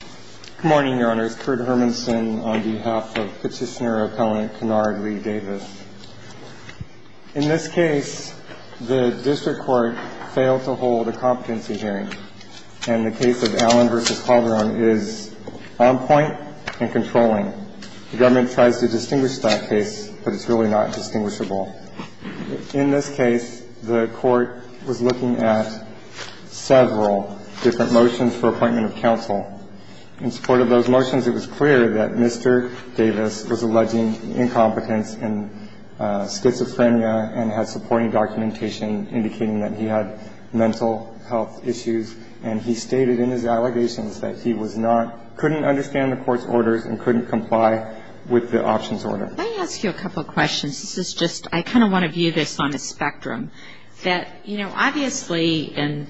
Good morning, Your Honors. Kurt Hermanson on behalf of Petitioner Appellant Kennard Lee Davis. In this case, the district court failed to hold a competency hearing, and the case of Allen v. Calderon is on point and controlling. The government tries to distinguish that case, but it's really not distinguishable. In this case, the court was looking at several different motions for appointment of counsel. In support of those motions, it was clear that Mr. Davis was alleging incompetence and schizophrenia and had supporting documentation indicating that he had mental health issues. And he stated in his allegations that he was not – couldn't understand the court's orders and couldn't comply with the options order. Let me ask you a couple of questions. This is just – I kind of want to view this on a spectrum. That, you know, obviously – and,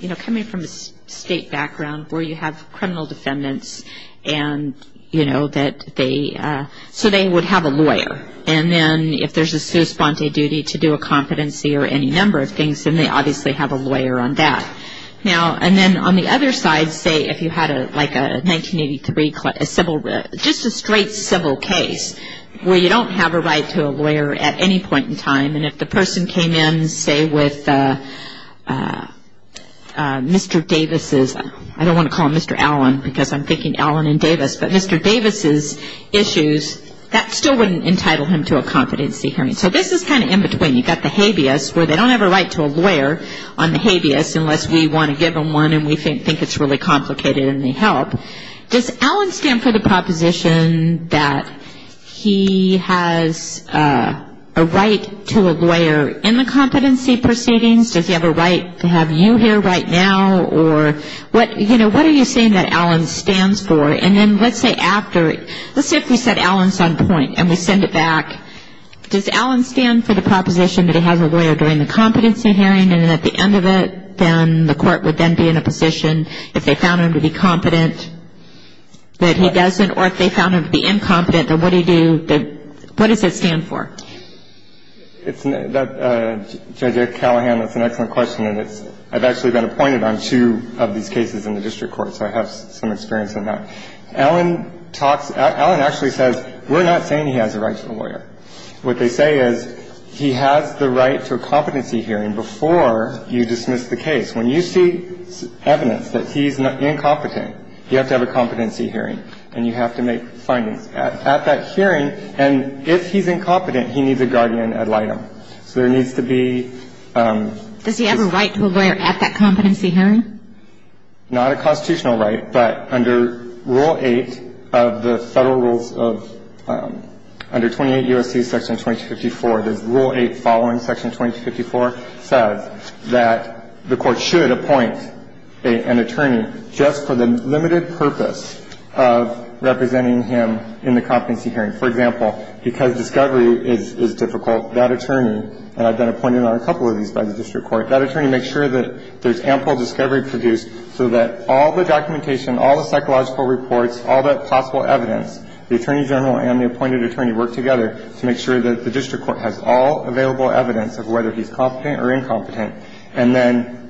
you know, coming from a State background where you have criminal defendants and, you know, that they – so they would have a lawyer. And then if there's a sua sponte duty to do a competency or any number of things, then they obviously have a lawyer on that. Now – and then on the other side, say, if you had a – like a 1983 – a civil – just a straight civil case where you don't have a right to a lawyer at any point in time, and if the person came in, say, with Mr. Davis's – I don't want to call him Mr. Allen because I'm thinking Allen and Davis, but Mr. Davis's issues, that still wouldn't entitle him to a competency hearing. So this is kind of in between. You've got the habeas where they don't have a right to a lawyer on the habeas unless we want to give them one and we think it's really complicated and they help. Does Allen stand for the proposition that he has a right to a lawyer in the competency proceedings? Does he have a right to have you here right now? Or what – you know, what are you saying that Allen stands for? And then let's say after – let's say if we said Allen's on point and we send it back, does Allen stand for the proposition that he has a lawyer during the competency hearing? And then at the end of it, then the court would then be in a position, if they found him to be competent, that he doesn't, or if they found him to be incompetent, then what do you do – what does it stand for? It's – Judge Callahan, that's an excellent question and it's – I've actually been appointed on two of these cases in the district court, so I have some experience in that. Allen talks – Allen actually says we're not saying he has a right to a lawyer. What they say is he has the right to a competency hearing before you dismiss the case. When you see evidence that he's incompetent, you have to have a competency hearing and you have to make findings. At that hearing – and if he's incompetent, he needs a guardian ad litem. So there needs to be – Does he have a right to a lawyer at that competency hearing? Not a constitutional right, but under Rule 8 of the federal rules of – under 28 U.S.C. Section 2254, there's Rule 8 following Section 2254 says that the of representing him in the competency hearing. For example, because discovery is difficult, that attorney – and I've been appointed on a couple of these by the district court – that attorney makes sure that there's ample discovery produced so that all the documentation, all the psychological reports, all the possible evidence, the attorney general and the appointed attorney work together to make sure that the district court has all available evidence of whether he's competent or incompetent. And then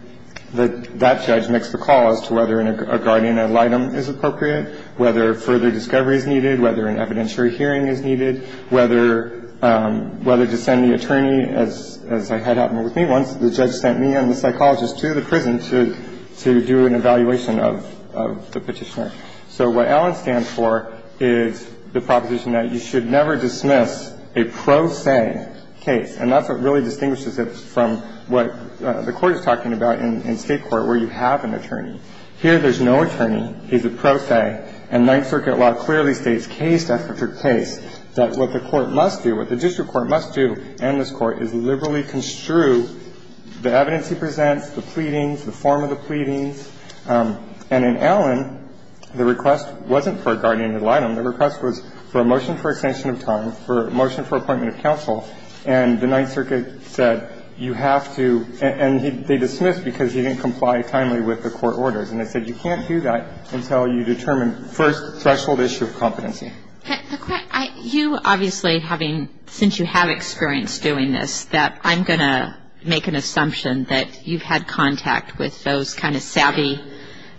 that judge makes the call as to whether a guardian ad litem is appropriate, whether further discovery is needed, whether an evidentiary hearing is needed, whether – whether to send the attorney, as I had happen with me once, the judge sent me and the psychologist to the prison to do an evaluation of the petitioner. So what Allen stands for is the proposition that you should never dismiss a prosang case. And that's what really distinguishes it from what the Court is talking about in State court where you have an attorney. Here there's no attorney. He's a prosang. And Ninth Circuit law clearly states case after case that what the court must do, what the district court must do, and this Court, is liberally construe the evidence he presents, the pleadings, the form of the pleadings. And in Allen, the request wasn't for a guardian ad litem. The request was for a motion for extension of time, for a motion for appointment of counsel. And the Ninth Circuit said you have to – and they dismissed because he didn't comply timely with the court orders. And they said you can't do that until you determine first threshold issue of competency. The question – you obviously having – since you have experience doing this, that I'm going to make an assumption that you've had contact with those kind of savvy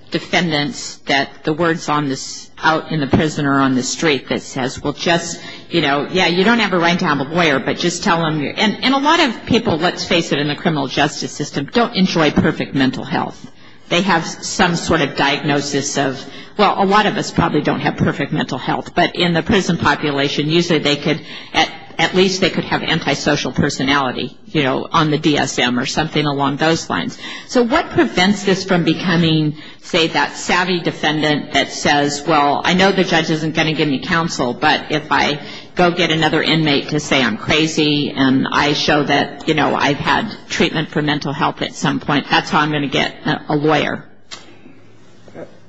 defendants that the words on the – out in the prison or on the street that says, well, just – you know, yeah, you don't have a right to have a lawyer, but just tell them – and a lot of people, let's face it, in the criminal justice system don't enjoy perfect mental health. They have some sort of diagnosis of – well, a lot of us probably don't have perfect mental health. But in the prison population, usually they could – at least they could have antisocial personality, you know, on the DSM or something along those lines. So what prevents this from becoming, say, that savvy defendant that says, well, I know the judge isn't going to give me counsel, but if I go get another inmate to say I'm crazy and I show that, you know, I've had treatment for mental health at some point, that's how I'm going to get a lawyer.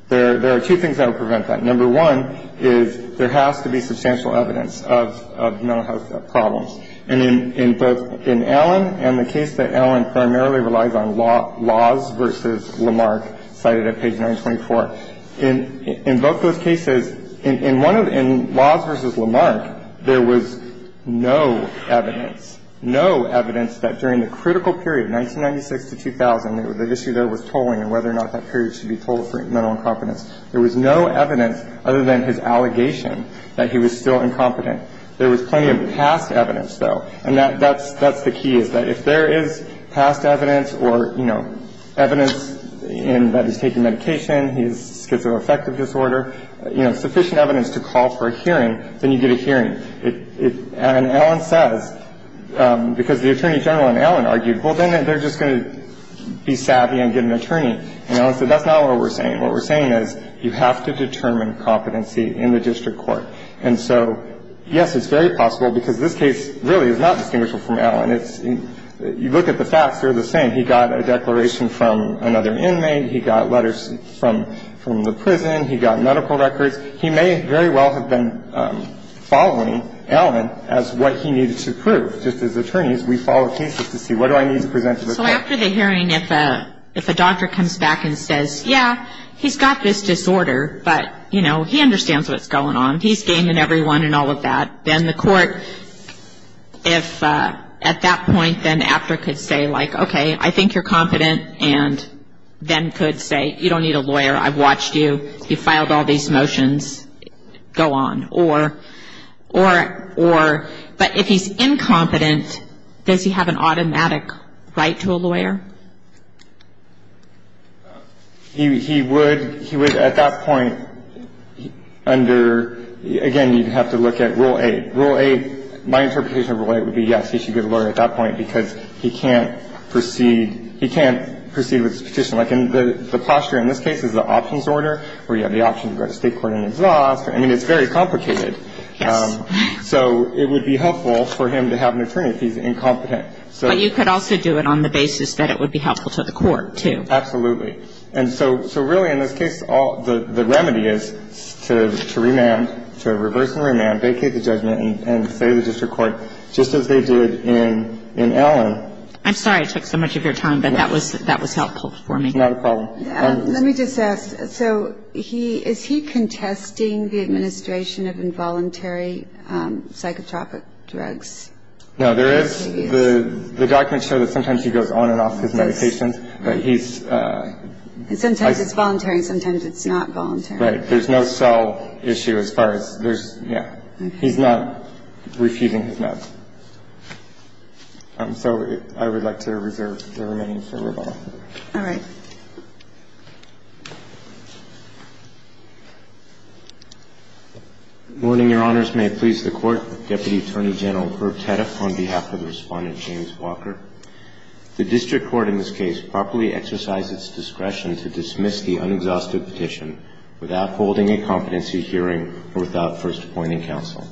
There are two things that will prevent that. Number one is there has to be substantial evidence of mental health problems. And in both – in Allen and the case that Allen primarily relies on, Laws v. Lamarck, cited at page 924, in both those cases, in one of – in Laws v. Lamarck, there was no evidence, no evidence that during the critical period, 1996 to 2000, the issue there was tolling and whether or not that period should be tolled for mental incompetence. There was no evidence other than his allegation that he was still incompetent. There was plenty of past evidence, though. And that's the key, is that if there is past evidence or, you know, evidence in that he's taking medication, he has schizoaffective disorder, you know, sufficient evidence to call for a hearing, then you get a hearing. And Allen says, because the Attorney General in Allen argued, well, then they're just going to be savvy and get an attorney. And Allen said, that's not what we're saying. What we're saying is you have to determine competency in the district court. And so, yes, it's very possible because this case really is not distinguishable from Allen. It's – you look at the facts, they're the same. He got a declaration from another inmate. He got letters from the prison. He got medical records. He may very well have been following Allen as what he needed to prove. Just as attorneys, we follow cases to see what do I need to present to the court. So after the hearing, if a doctor comes back and says, yeah, he's got this disorder, but, you know, he understands what's going on, he's gaming everyone and all of that, then the court, if at that point, then AFTRA could say, like, okay, I think you're competent, and then could say, you don't need a lawyer. I've watched you. You filed all these motions. Go on. Or – but if he's incompetent, does he have an automatic right to a lawyer? He would – he would, at that point, under – again, you'd have to look at Rule 8. Rule 8 – my interpretation of Rule 8 would be, yes, he should get a And I think that's an important point, because he can't proceed – he can't proceed with his petition. Like, the posture in this case is the options order, where you have the option to go to State court and then to the law office. I mean, it's very complicated. Yes. So it would be helpful for him to have an attorney if he's incompetent. But you could also do it on the basis that it would be helpful to the court, too. Absolutely. And so really, in this case, the remedy is to remand – to reverse remand, vacate the judgment, and say to the district court, just as they did in Allen – I'm sorry I took so much of your time, but that was – that was helpful for me. Not a problem. Let me just ask. So he – is he contesting the administration of involuntary psychotropic drugs? No, there is – the documents show that sometimes he goes on and off his medications, but he's – Sometimes it's voluntary. Sometimes it's not voluntary. Right. There's no cell issue as far as – there's – yeah. He's not refusing his meds. So I would like to reserve the remaining for Rebecca. All right. Good morning, Your Honors. May it please the Court. Deputy Attorney General Herb Tedeff on behalf of Respondent James Walker. The district court in this case properly exercised its discretion to dismiss the unexhausted petition without holding a competency hearing or without first appointing counsel.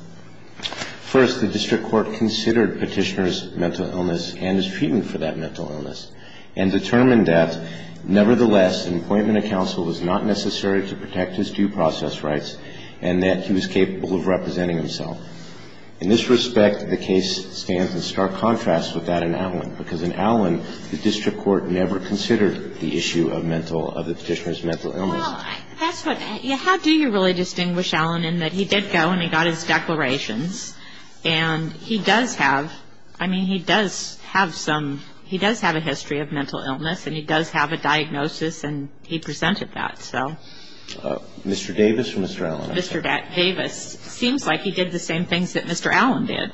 First, the district court considered Petitioner's mental illness and his treatment for that mental illness and determined that, nevertheless, an appointment of counsel was not necessary to protect his due process rights and that he was capable of representing himself. In this respect, the case stands in stark contrast with that in Allen, because Well, that's what – how do you really distinguish Allen in that he did go and he got his declarations, and he does have – I mean, he does have some – he does have a history of mental illness, and he does have a diagnosis, and he presented that. So – Mr. Davis or Mr. Allen? Mr. Davis. Seems like he did the same things that Mr. Allen did.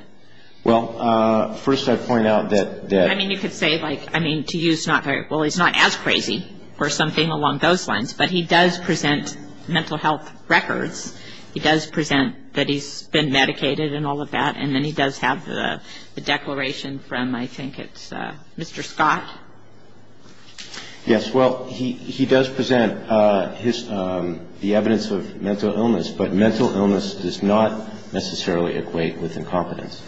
Well, first I'd point out that – I mean, you could say, like – I mean, to use not – well, he's not as crazy or But he does present mental health records. He does present that he's been medicated and all of that, and then he does have the declaration from, I think it's Mr. Scott. Yes. Well, he does present his – the evidence of mental illness, but mental illness does not necessarily equate with incompetence.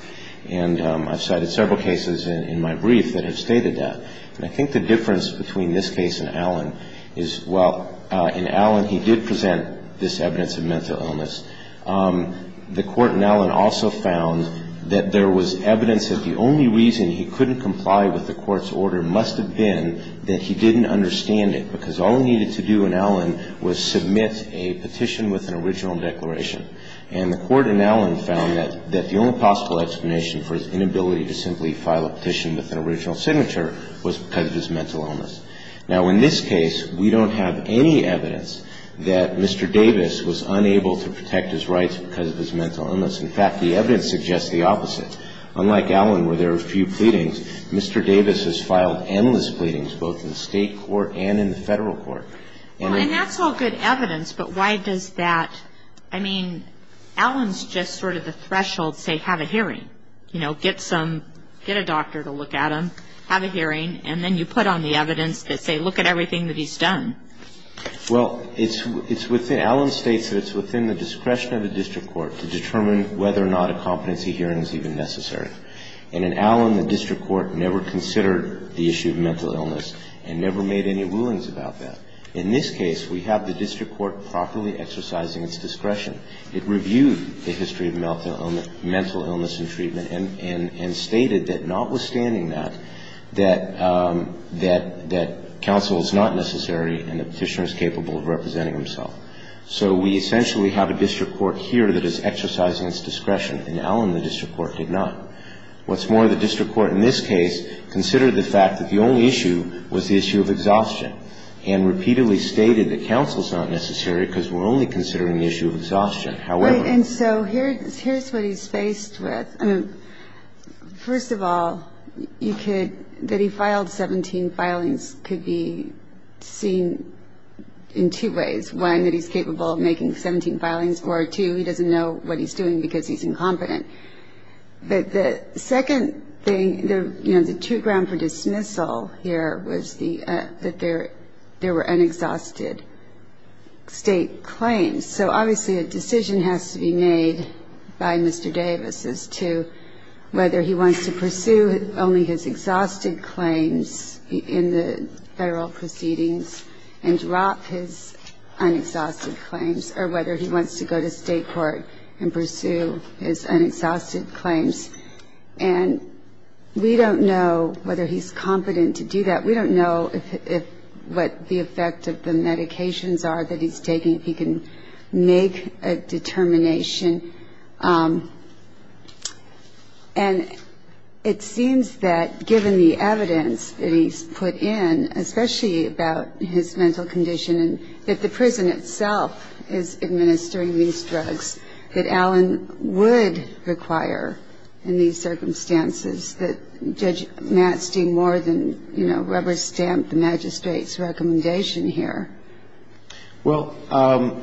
And I've cited several cases in my brief that have stated that. And I think the difference between this case and Allen is, well, in Allen he did present this evidence of mental illness. The Court in Allen also found that there was evidence that the only reason he couldn't comply with the Court's order must have been that he didn't understand it, because all he needed to do in Allen was submit a petition with an original declaration. And the Court in Allen found that the only possible explanation for his inability to simply file a petition with an original signature was because of his mental illness. Now, in this case, we don't have any evidence that Mr. Davis was unable to protect his rights because of his mental illness. In fact, the evidence suggests the opposite. Unlike Allen, where there are few pleadings, Mr. Davis has filed endless pleadings, both in the state court and in the federal court. And that's all good evidence, but why does that – I mean, Allen's just sort of the threshold, say, have a hearing. You know, get some – get a doctor to look at him, have a hearing, and then you put on the evidence that say, look at everything that he's done. Well, it's within – Allen states that it's within the discretion of the district court to determine whether or not a competency hearing is even necessary. And in Allen, the district court never considered the issue of mental illness and never made any rulings about that. In this case, we have the district court properly exercising its discretion. It reviewed the history of mental illness and treatment and stated that notwithstanding that, that counsel is not necessary and the Petitioner is capable of representing himself. So we essentially have a district court here that is exercising its discretion, and Allen, the district court, did not. What's more, the district court in this case considered the fact that the only issue was the issue of exhaustion and repeatedly stated that counsel is not necessary because we're only considering the issue of exhaustion. However – And so here's what he's faced with. I mean, first of all, you could – that he filed 17 filings could be seen in two ways. One, that he's capable of making 17 filings, or two, he doesn't know what he's doing because he's incompetent. But the second thing, you know, the two ground for dismissal here was the – that there were unexhausted state claims. So obviously a decision has to be made by Mr. Davis as to whether he wants to pursue only his exhausted claims in the federal proceedings and drop his unexhausted claims or whether he wants to go to state court and pursue his unexhausted claims. And we don't know whether he's competent to do that. We don't know if – what the effect of the medications are that he's taking, if he can make a determination. And it seems that given the evidence that he's put in, especially about his mental condition, that the prison itself is administering these drugs, that Allen would require in these And I don't think that that would ever stamp the Magistrate's recommendation here. Well,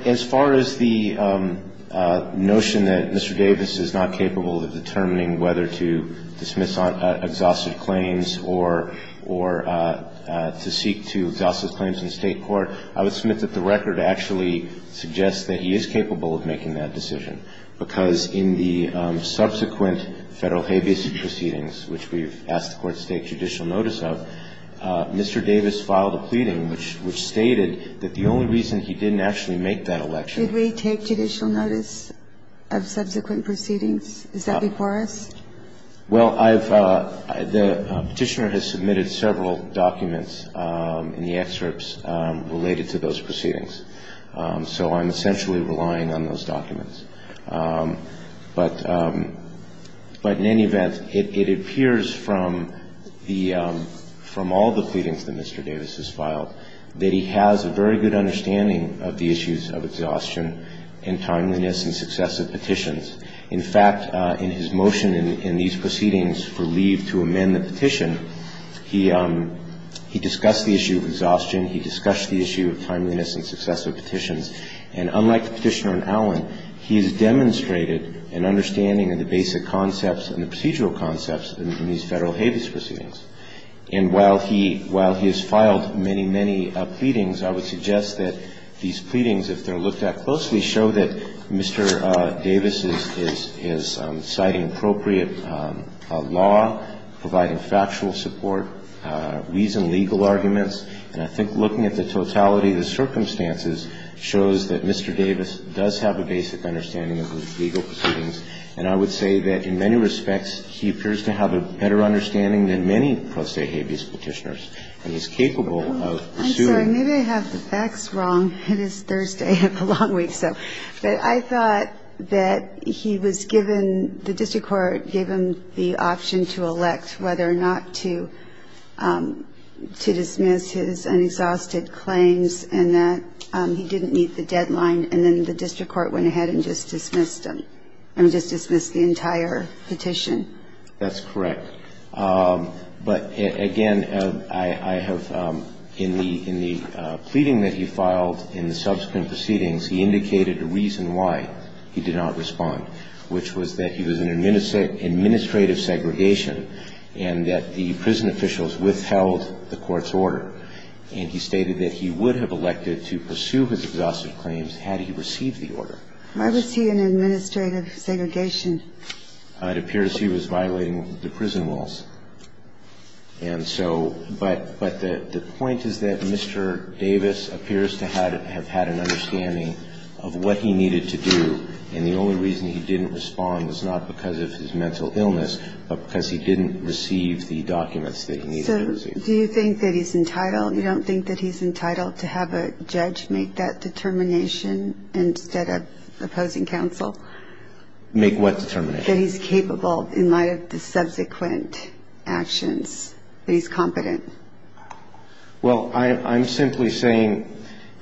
as far as the notion that Mr. Davis is not capable of determining whether to dismiss exhausted claims or to seek to exhaust his claims in state court, I would submit that the record actually suggests that he is capable of making that decision, because in the subsequent federal habeas proceedings, which we've asked the Court to take judicial notice of, Mr. Davis filed a pleading which – which stated that the only reason he didn't actually make that election – Did we take judicial notice of subsequent proceedings? Is that before us? Well, I've – the Petitioner has submitted several documents in the excerpts related to those proceedings. So I'm essentially relying on those documents. But in any event, it appears from the – from all the pleadings that Mr. Davis has filed that he has a very good understanding of the issues of exhaustion and timeliness and success of petitions. In fact, in his motion in these proceedings for leave to amend the Petition, he – he discussed the issue of exhaustion. He discussed the issue of timeliness and success of petitions. And unlike the Petitioner and Allen, he has demonstrated an understanding of the basic concepts and the procedural concepts in these federal habeas proceedings. And while he – while he has filed many, many pleadings, I would suggest that these pleadings, if they're looked at closely, show that Mr. Davis is – is in factual support, weas in legal arguments. And I think looking at the totality of the circumstances shows that Mr. Davis does have a basic understanding of legal proceedings. And I would say that in many respects, he appears to have a better understanding than many pro se habeas Petitioners. And he's capable of pursuing – I'm sorry. Maybe I have the facts wrong. It is Thursday. I have a long week, so – but I thought that he was given – the district court gave him the option to elect whether or not to – to dismiss his unexhausted claims, and that he didn't meet the deadline. And then the district court went ahead and just dismissed them – I mean, just dismissed the entire petition. That's correct. But, again, I have – in the – in the pleading that he filed in the And he stated that he would have elected to pursue his exhaustive claims had he received the order. Why was he in administrative segregation? It appears he was violating the prison rules. And so – but the point is that Mr. Davis appears to have had an understanding of what he needed to do. And the only reason he didn't respond was not because of his mental illness, but because he didn't receive the documents that he needed to receive. So do you think that he's entitled – you don't think that he's entitled to have a judge make that determination instead of opposing counsel? Make what determination? That he's capable in light of the subsequent actions, that he's competent. Well, I'm simply saying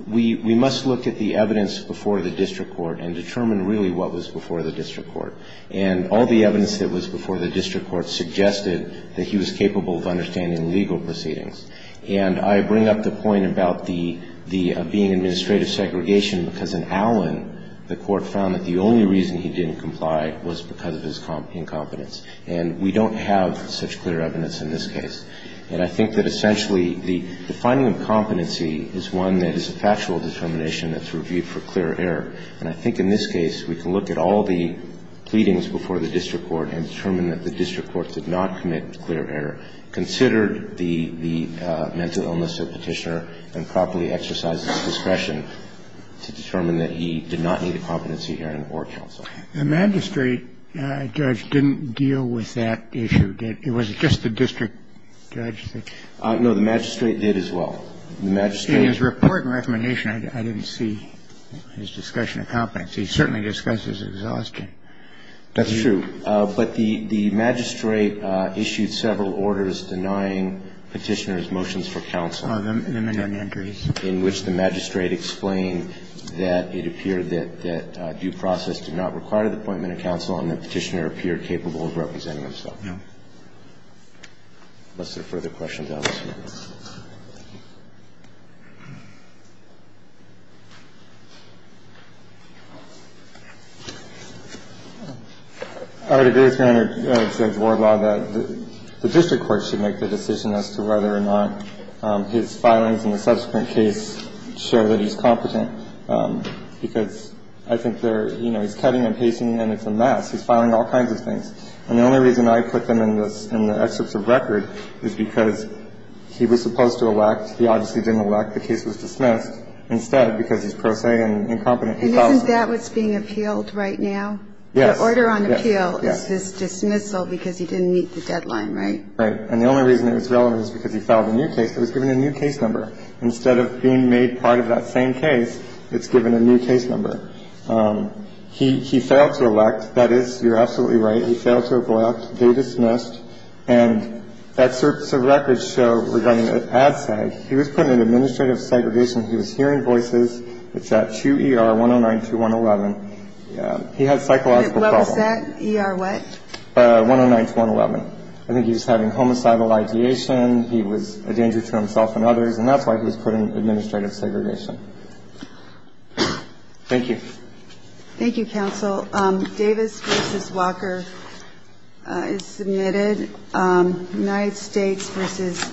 we must look at the evidence before the district court and determine really what was before the district court. And all the evidence that was before the district court suggested that he was capable of understanding legal proceedings. And I bring up the point about the – of being in administrative segregation because in Allen, the court found that the only reason he didn't comply was because of his incompetence. And we don't have such clear evidence in this case. And I think that essentially the finding of competency is one that is a factual determination that's reviewed for clear error. And I think in this case, we can look at all the pleadings before the district court and determine that the district court did not commit clear error, considered the mental illness of Petitioner, and properly exercised discretion to determine that he did not need a competency hearing or counsel. The magistrate, Judge, didn't deal with that issue, did he? Was it just the district judge? No. The magistrate did as well. The magistrate did as well. In his report and recommendation, I didn't see his discussion of competence. He certainly discussed his exhaustion. That's true. But the magistrate issued several orders denying Petitioner's motions for counsel. Oh, the minimum entries. In which the magistrate explained that it appeared that due process did not require the appointment of counsel and that Petitioner appeared capable of representing himself. No. Unless there are further questions, I'll just move on. I would agree with you, Your Honor, Judge Warbaugh, that the district court should make the decision as to whether or not his filings and the subsequent cases should In my opinion, I think that the district court should make the case sure that he's competent, because I think there, you know, he's cutting and pasting, and it's a mess. He's filing all kinds of things. And the only reason I put them in the excerpts of record is because he was supposed to elect. He obviously didn't elect. The case was dismissed. Instead, because he's prosaic and incompetent, he filed the new case. It was given a new case number. Instead of being made part of that same case, it's given a new case number. He failed to elect. That is, you're absolutely right, he failed to elect. They dismissed. And that excerpt of record show regarding ad sag, he was put in administrative segregation. He was hearing voices. It's at 2 ER 109-111. He had psychological problems. What was that? ER what? 109-111. I think he was having homicidal ideation. He was a danger to himself and others. And that's why he was put in administrative segregation. Thank you. Thank you, counsel. Davis v. Walker is submitted. United States v.